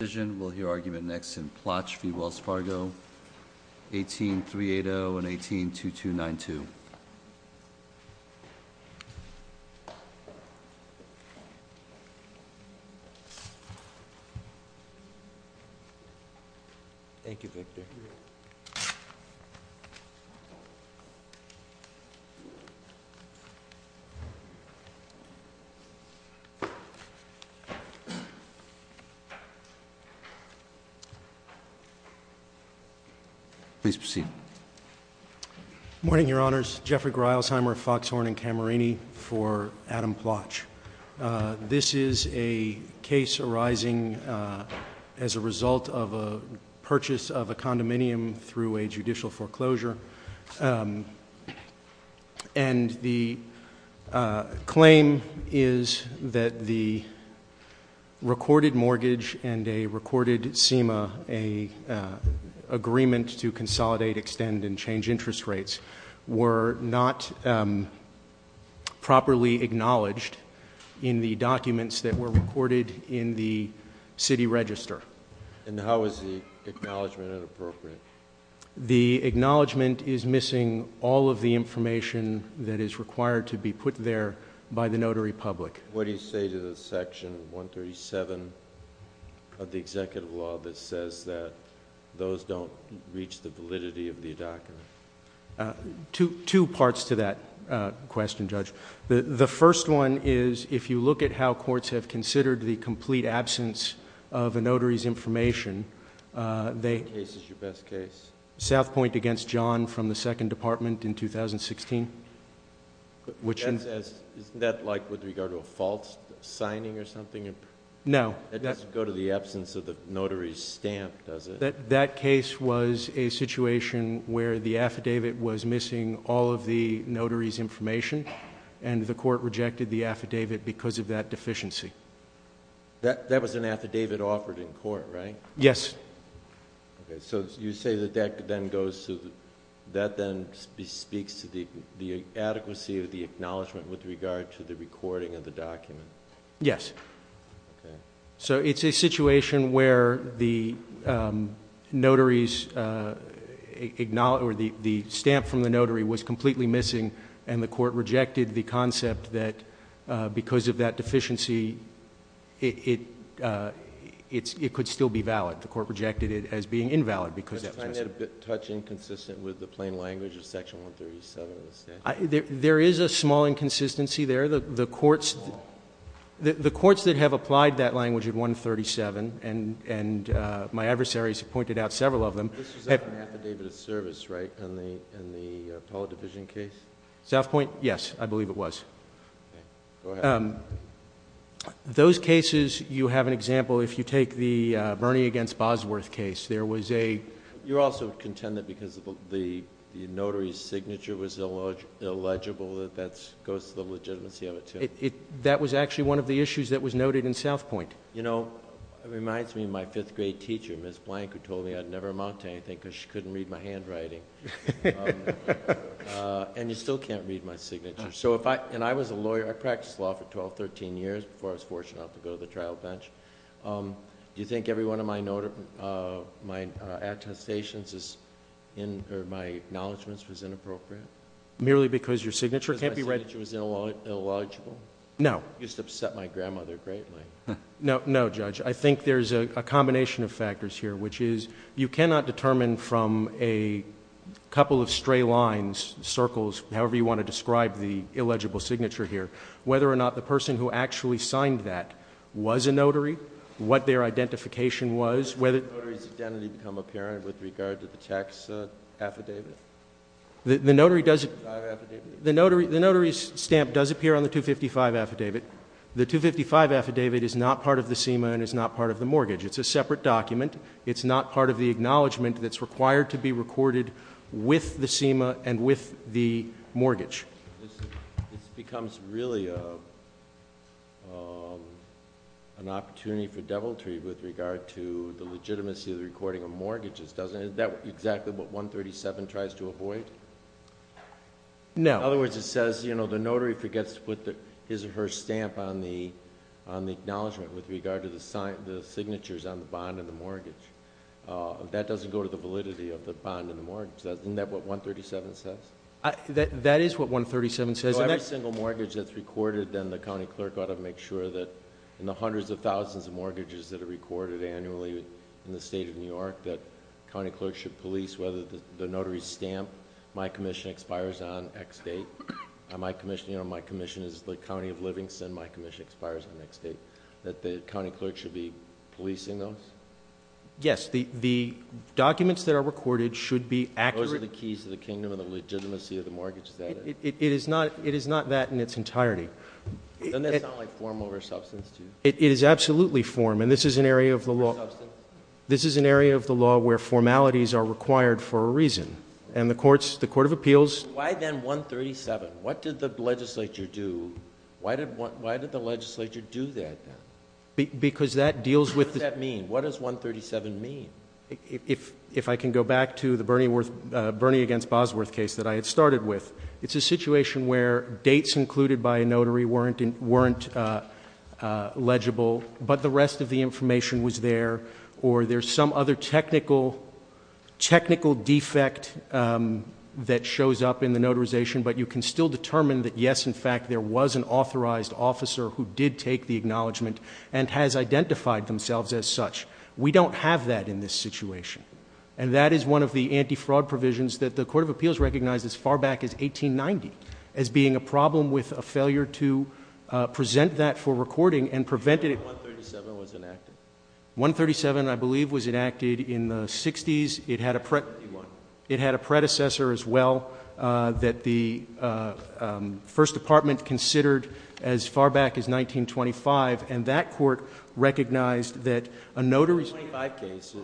We'll hear argument next in Plotch v. Wells Fargo, 18-380 and 18-2292. Thank you, Victor. Please proceed. Good morning, Your Honors. Jeffrey Greilsheimer of Foxhorn & Camerini for Adam Plotch. This is a case arising as a result of a purchase of a condominium through a judicial foreclosure. And the claim is that the recorded mortgage and a record mortgage, a recorded SEMA, an agreement to consolidate, extend, and change interest rates, were not properly acknowledged in the documents that were recorded in the city register. And how is the acknowledgment inappropriate? The acknowledgment is missing all of the information that is required to be put there by the notary public. What do you say to the Section 137 of the Executive Law that says that those don't reach the validity of the document? Two parts to that question, Judge. The first one is, if you look at how courts have considered the complete absence of a notary's information, Which case is your best case? South Point v. John from the Second Department in 2016. Isn't that like with regard to a false signing or something? No. It doesn't go to the absence of the notary's stamp, does it? That case was a situation where the affidavit was missing all of the notary's information, and the court rejected the affidavit because of that deficiency. That was an affidavit offered in court, right? Yes. So you say that that then speaks to the adequacy of the acknowledgment with regard to the recording of the document? Yes. So it's a situation where the stamp from the notary was completely missing, and the court rejected the concept that because of that deficiency it could still be valid. The court rejected it as being invalid because that was missing. Was the signing a bit touch inconsistent with the plain language of Section 137 of the statute? There is a small inconsistency there. The courts that have applied that language in Section 137, and my adversaries have pointed out several of them. This was an affidavit of service, right, in the Apollo Division case? South Point, yes. I believe it was. Okay. Go ahead. Those cases, you have an example if you take the Bernie against Bosworth case. There was a... You're also content that because the notary's signature was illegible that that goes to the legitimacy of it, too? That was actually one of the issues that was noted in South Point. You know, it reminds me of my fifth grade teacher, Ms. Blank, who told me I'd never amount to anything because she couldn't read my handwriting, and you still can't read my signature. I was a lawyer. I practiced law for twelve, thirteen years before I was fortunate enough to go to the trial bench. Do you think every one of my attestations or my acknowledgements was inappropriate? Merely because your signature can't be read? Because my signature was illogical? No. It used to upset my grandmother greatly. No, Judge. I think there's a combination of factors here, which is you cannot determine from a couple of stray lines, circles, however you want to describe the illegible signature here, whether or not the person who actually signed that was a notary, what their identification was, whether... Did the notary's identity become apparent with regard to the tax affidavit? The notary does... The notary's stamp does appear on the 255 affidavit. The 255 affidavit is not part of the SEMA and is not part of the mortgage. It's a separate document. It's not part of the acknowledgment that's required to be recorded with the SEMA and with the mortgage. This becomes really an opportunity for deviltry with regard to the legitimacy of the recording of mortgages, doesn't it? Is that exactly what 137 tries to avoid? No. In other words, it says the notary forgets to put his or her stamp on the acknowledgment with regard to the signatures on the bond and the mortgage. That doesn't go to the validity of the bond and the mortgage. Isn't that what 137 says? That is what 137 says. So every single mortgage that's recorded, then the county clerk ought to make sure that in the hundreds of thousands of mortgages that are recorded annually in the state of New York, that county clerks should police whether the notary's stamp, my commission expires on X date. My commission is the county of Livingston. My commission expires on X date. That the county clerk should be policing those? Yes. The documents that are recorded should be accurate. Those are the keys to the kingdom and the legitimacy of the mortgage. Is that it? It is not that in its entirety. Doesn't that sound like form over substance to you? It is absolutely form. And this is an area of the law. Where formalities are required for a reason. And the court of appeals. Why then 137? What did the legislature do? Why did the legislature do that? Because that deals with. What does that mean? What does 137 mean? If I can go back to the Bernie against Bosworth case that I had started with. It's a situation where dates included by a notary weren't legible. But the rest of the information was there. Or there's some other technical defect. That shows up in the notarization. But you can still determine that yes, in fact, there was an authorized officer. Who did take the acknowledgement. And has identified themselves as such. We don't have that in this situation. And that is one of the anti-fraud provisions. That the court of appeals recognized as far back as 1890. As being a problem with a failure to present that for recording. And prevented it. 137 was enacted? 137, I believe, was enacted in the 60s. It had a predecessor as well. That the first department considered as far back as 1925. And that court recognized that a notary. The 25 case.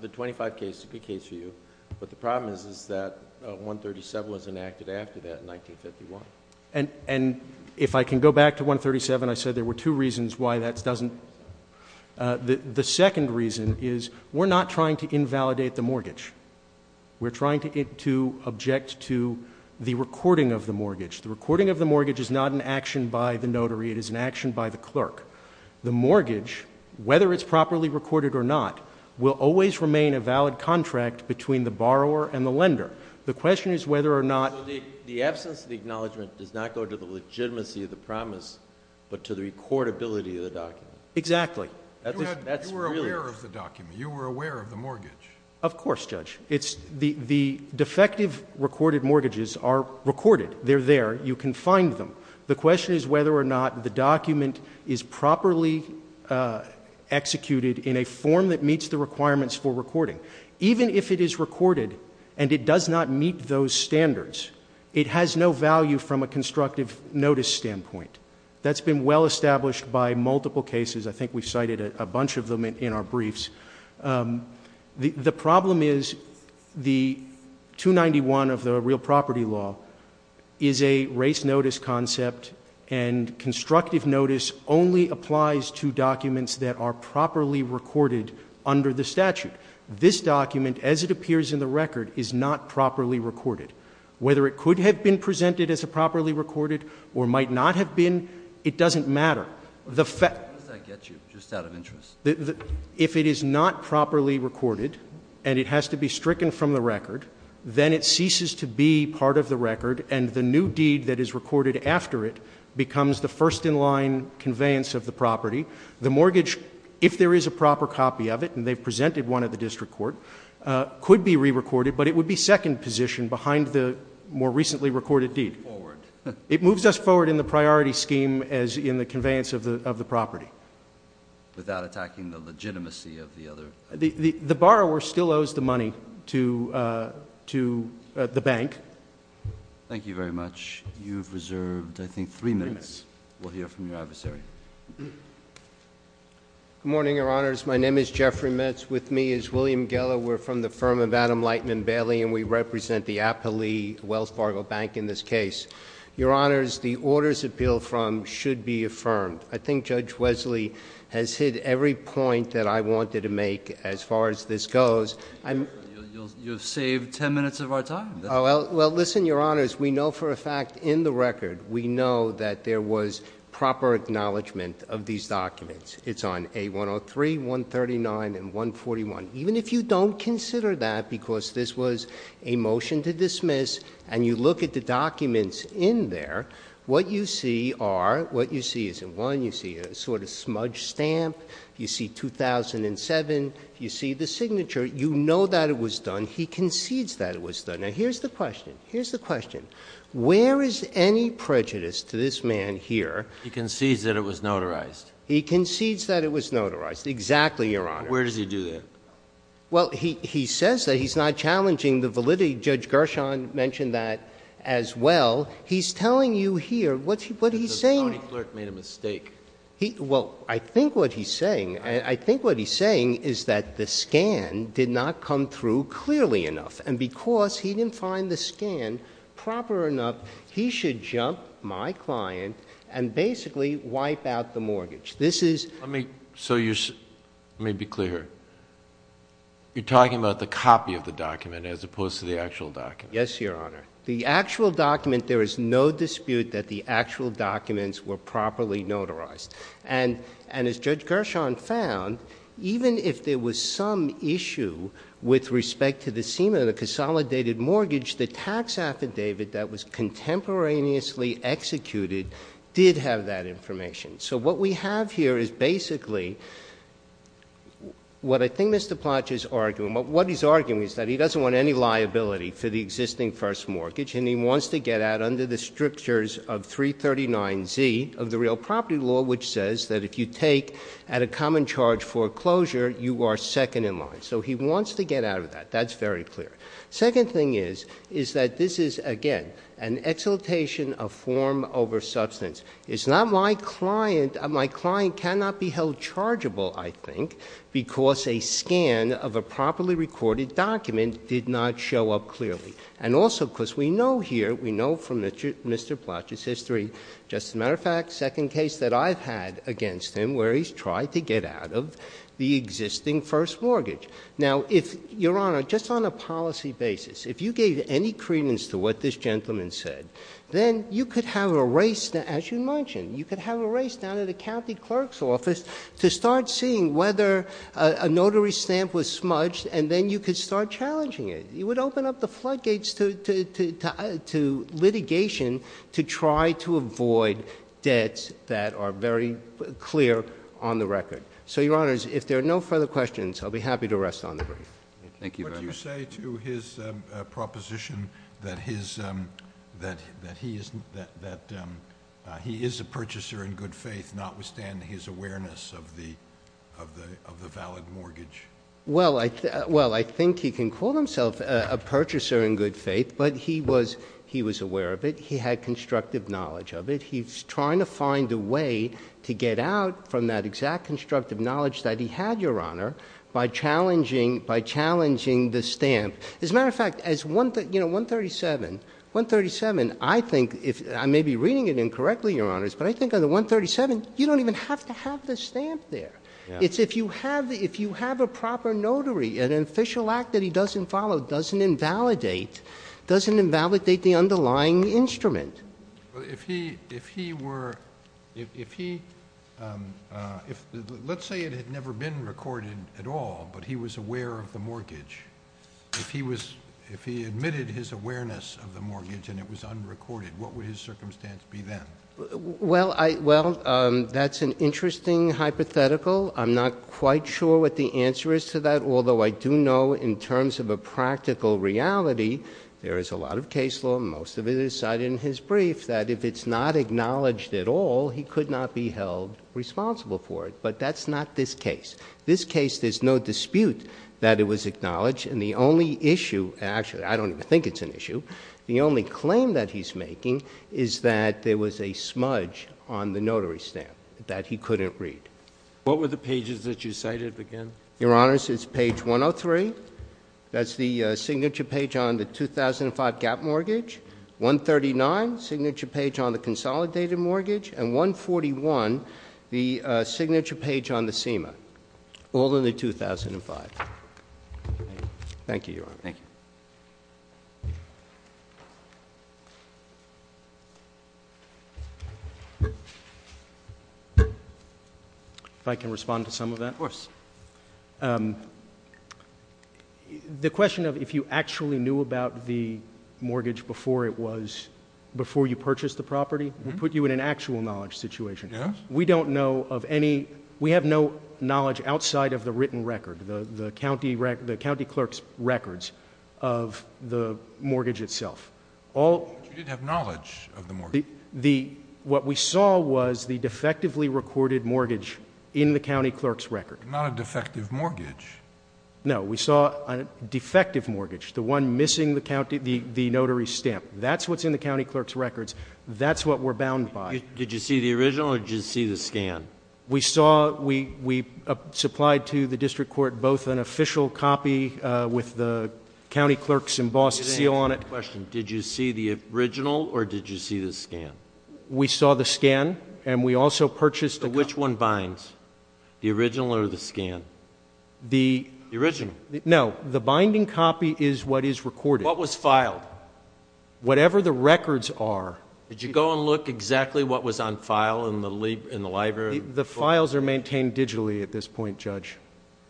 The 25 case is a good case for you. But the problem is that 137 was enacted after that in 1951. And if I can go back to 137. I said there were two reasons why that doesn't. The second reason is we're not trying to invalidate the mortgage. We're trying to object to the recording of the mortgage. The recording of the mortgage is not an action by the notary. It is an action by the clerk. The mortgage, whether it's properly recorded or not. Will always remain a valid contract between the borrower and the lender. The question is whether or not. The absence of the acknowledgement does not go to the legitimacy of the promise. But to the recordability of the document. Exactly. You were aware of the document. You were aware of the mortgage. Of course, Judge. The defective recorded mortgages are recorded. They're there. You can find them. The question is whether or not the document is properly executed. In a form that meets the requirements for recording. Even if it is recorded and it does not meet those standards. It has no value from a constructive notice standpoint. That's been well established by multiple cases. I think we cited a bunch of them in our briefs. The problem is the 291 of the real property law. Is a race notice concept. And constructive notice only applies to documents that are properly recorded. Under the statute. This document as it appears in the record is not properly recorded. Whether it could have been presented as a properly recorded. Or might not have been. It doesn't matter. How does that get you? Just out of interest. If it is not properly recorded. And it has to be stricken from the record. Then it ceases to be part of the record. And the new deed that is recorded after it. Becomes the first in line conveyance of the property. The mortgage. If there is a proper copy of it. And they've presented one at the district court. Could be re-recorded. But it would be second position behind the more recently recorded deed. Forward. It moves us forward in the priority scheme as in the conveyance of the property. Without attacking the legitimacy of the other. The borrower still owes the money to the bank. Thank you very much. You've reserved I think three minutes. We'll hear from your adversary. Good morning, your honors. My name is Jeffrey Metz. With me is William Geller. We're from the firm of Adam Lightman Bailey. And we represent the Appley Wells Fargo Bank in this case. Your honors, the orders appeal from should be affirmed. I think Judge Wesley has hit every point that I wanted to make as far as this goes. You've saved ten minutes of our time. Well, listen, your honors. We know for a fact in the record. We know that there was proper acknowledgement of these documents. It's on A103, 139, and 141. Even if you don't consider that because this was a motion to dismiss. And you look at the documents in there. What you see are. What you see isn't one. You see a sort of smudge stamp. You see 2007. You see the signature. You know that it was done. He concedes that it was done. Now, here's the question. Here's the question. Where is any prejudice to this man here? He concedes that it was notarized. He concedes that it was notarized. Exactly, your honor. Where does he do that? Well, he says that. He's not challenging the validity. Judge Gershon mentioned that as well. He's telling you here. What he's saying. The county clerk made a mistake. Well, I think what he's saying. I think what he's saying is that the scan did not come through clearly enough. And because he didn't find the scan proper enough. He should jump my client and basically wipe out the mortgage. This is. Let me be clear here. You're talking about the copy of the document as opposed to the actual document. Yes, your honor. The actual document. There is no dispute that the actual documents were properly notarized. And as Judge Gershon found. Even if there was some issue. With respect to the seam of the consolidated mortgage. The tax affidavit that was contemporaneously executed. Did have that information. So what we have here is basically. What I think Mr. Plotch is arguing. What he's arguing is that he doesn't want any liability for the existing first mortgage. And he wants to get out under the strictures of 339Z of the real property law. Which says that if you take at a common charge foreclosure. You are second in line. So he wants to get out of that. That's very clear. Second thing is. Is that this is again. An exaltation of form over substance. It's not my client. My client cannot be held chargeable. I think. Because a scan of a properly recorded document. Did not show up clearly. And also because we know here. We know from Mr. Plotch's history. Just a matter of fact. Second case that I've had against him. Where he's tried to get out of the existing first mortgage. Now if. Your honor. Just on a policy basis. If you gave any credence to what this gentleman said. Then you could have a race. As you mentioned. You could have a race down to the county clerk's office. To start seeing whether a notary stamp was smudged. And then you could start challenging it. You would open up the floodgates to litigation. To try to avoid debts that are very clear on the record. So your honors. If there are no further questions. I'll be happy to rest on the brief. Thank you very much. What do you say to his proposition. That he is a purchaser in good faith. Notwithstanding his awareness of the valid mortgage. Well, I think he can call himself a purchaser in good faith. But he was aware of it. He had constructive knowledge of it. He's trying to find a way to get out from that exact constructive knowledge that he had. Your honor. By challenging the stamp. As a matter of fact. As 137. 137. I think. I may be reading it incorrectly. Your honors. But I think on the 137. You don't even have to have the stamp there. It's if you have a proper notary. An official act that he doesn't follow. Doesn't invalidate. Doesn't invalidate the underlying instrument. If he were. If he. Let's say it had never been recorded at all. But he was aware of the mortgage. If he was. If he admitted his awareness of the mortgage. And it was unrecorded. What would his circumstance be then? Well, that's an interesting hypothetical. I'm not quite sure what the answer is to that. Although I do know in terms of a practical reality. There is a lot of case law. Most of it is cited in his brief. That if it's not acknowledged at all. He could not be held responsible for it. But that's not this case. This case. There's no dispute that it was acknowledged. And the only issue. Actually, I don't even think it's an issue. The only claim that he's making. Is that there was a smudge on the notary stamp. That he couldn't read. What were the pages that you cited again? Your honors, it's page 103. That's the signature page on the 2005 gap mortgage. 139. Signature page on the consolidated mortgage. And 141. The signature page on the SEMA. All in the 2005. Thank you, your honor. Thank you. If I can respond to some of that. Of course. The question of if you actually knew about the mortgage before it was. Before you purchased the property. We put you in an actual knowledge situation. Yes. We don't know of any. We have no knowledge outside of the written record. The county clerk's records. Of the mortgage itself. You did have knowledge of the mortgage. What we saw was the defectively recorded mortgage in the county clerk's record. Not a defective mortgage. No. We saw a defective mortgage. The one missing the notary stamp. That's what's in the county clerk's records. That's what we're bound by. Did you see the original or did you see the scan? We supplied to the district court both an official copy. With the county clerk's embossed seal on it. I have a question. Did you see the original or did you see the scan? We saw the scan and we also purchased the copy. Which one binds? The original or the scan? The original. No. The binding copy is what is recorded. What was filed? Whatever the records are. Did you go and look exactly what was on file in the library? The files are maintained digitally at this point, Judge.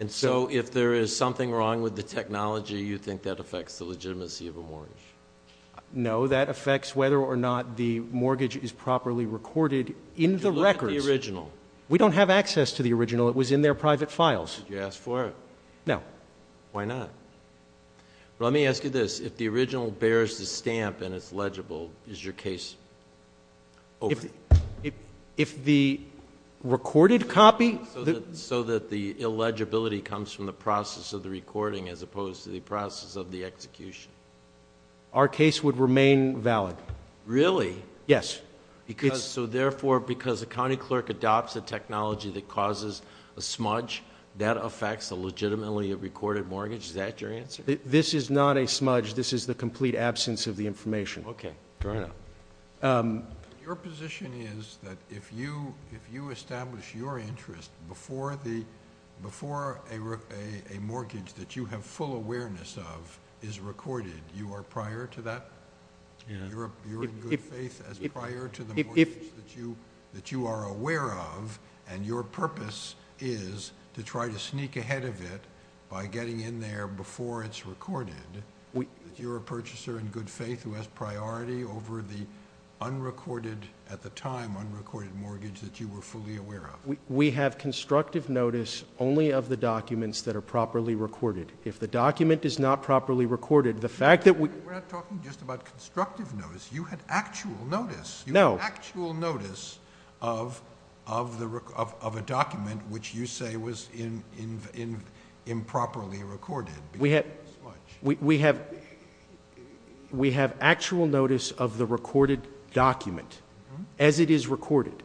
If there is something wrong with the technology, you think that affects the legitimacy of a mortgage? No. That affects whether or not the mortgage is properly recorded in the records. Did you look at the original? We don't have access to the original. It was in their private files. Did you ask for it? No. Why not? Let me ask you this. If the original bears the stamp and it's legible, is your case over? If the recorded copy... So that the illegibility comes from the process of the recording as opposed to the process of the execution? Our case would remain valid. Really? Yes. Therefore, because a county clerk adopts a technology that causes a smudge, that affects the legitimacy of a recorded mortgage? Is that your answer? This is not a smudge. This is the complete absence of the information. Okay. Fair enough. Your position is that if you establish your interest before a mortgage that you have full awareness of is recorded, you are prior to that? You're in good faith as prior to the mortgage that you are aware of, and your purpose is to try to sneak ahead of it by getting in there before it's recorded. You're a purchaser in good faith who has priority over the unrecorded, at the time, unrecorded mortgage that you were fully aware of. We have constructive notice only of the documents that are properly recorded. If the document is not properly recorded, the fact that we... We're not talking just about constructive notice. You had actual notice. No. You had actual notice of a document which you say was improperly recorded because of the smudge. We have actual notice of the recorded document as it is recorded.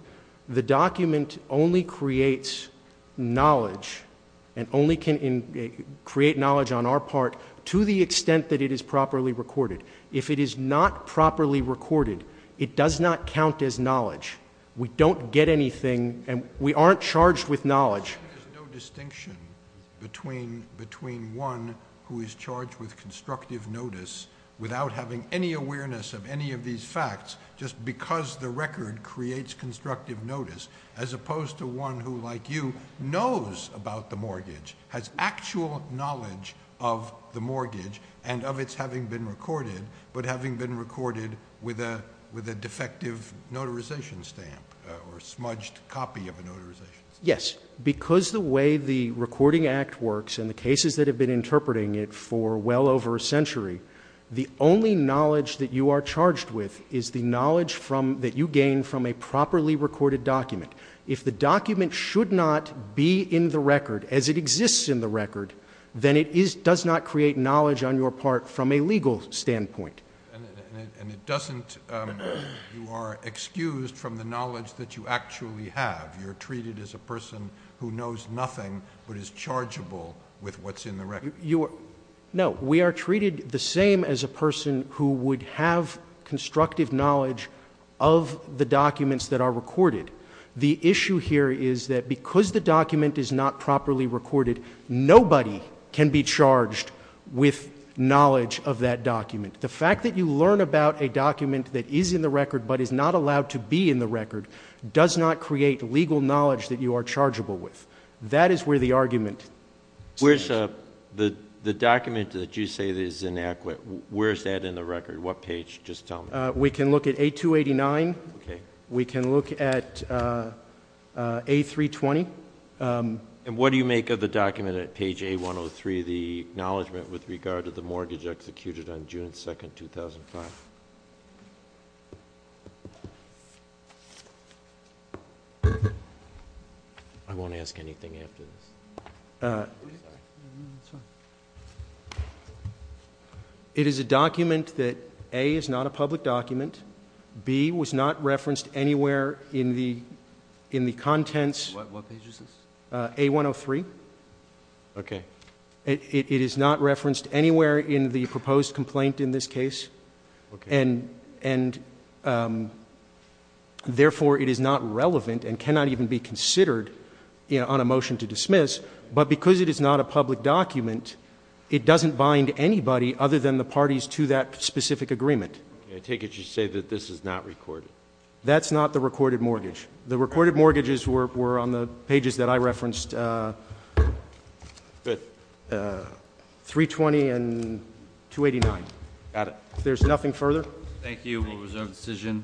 The document only creates knowledge and only can create knowledge on our part to the extent that it is properly recorded. If it is not properly recorded, it does not count as knowledge. We don't get anything, and we aren't charged with knowledge. There's no distinction between one who is charged with constructive notice without having any awareness of any of these facts, just because the record creates constructive notice, as opposed to one who, like you, knows about the mortgage, has actual knowledge of the mortgage and of its having been recorded, but having been recorded with a defective notarization stamp or smudged copy of a notarization stamp. Yes. Because the way the Recording Act works and the cases that have been interpreting it for well over a century, the only knowledge that you are charged with is the knowledge that you gain from a properly recorded document. If the document should not be in the record as it exists in the record, then it does not create knowledge on your part from a legal standpoint. And it doesn't—you are excused from the knowledge that you actually have. You're treated as a person who knows nothing but is chargeable with what's in the record. No. We are treated the same as a person who would have constructive knowledge of the documents that are recorded. The issue here is that because the document is not properly recorded, nobody can be charged with knowledge of that document. The fact that you learn about a document that is in the record but is not allowed to be in the record does not create legal knowledge that you are chargeable with. That is where the argument stands. The document that you say is inadequate, where is that in the record? What page? Just tell me. We can look at A289. Okay. We can look at A320. And what do you make of the document at page A103, the acknowledgement with regard to the mortgage executed on June 2, 2005? I won't ask anything after this. Sorry. That's fine. It is a document that, A, is not a public document. B, was not referenced anywhere in the contents. What page is this? A103. Okay. It is not referenced anywhere in the proposed complaint in this case. Okay. And, therefore, it is not relevant and cannot even be considered on a motion to dismiss. But because it is not a public document, it doesn't bind anybody other than the parties to that specific agreement. I take it you say that this is not recorded. That's not the recorded mortgage. The recorded mortgages were on the pages that I referenced, 320 and 289. Got it. If there's nothing further. Thank you. We'll reserve the decision.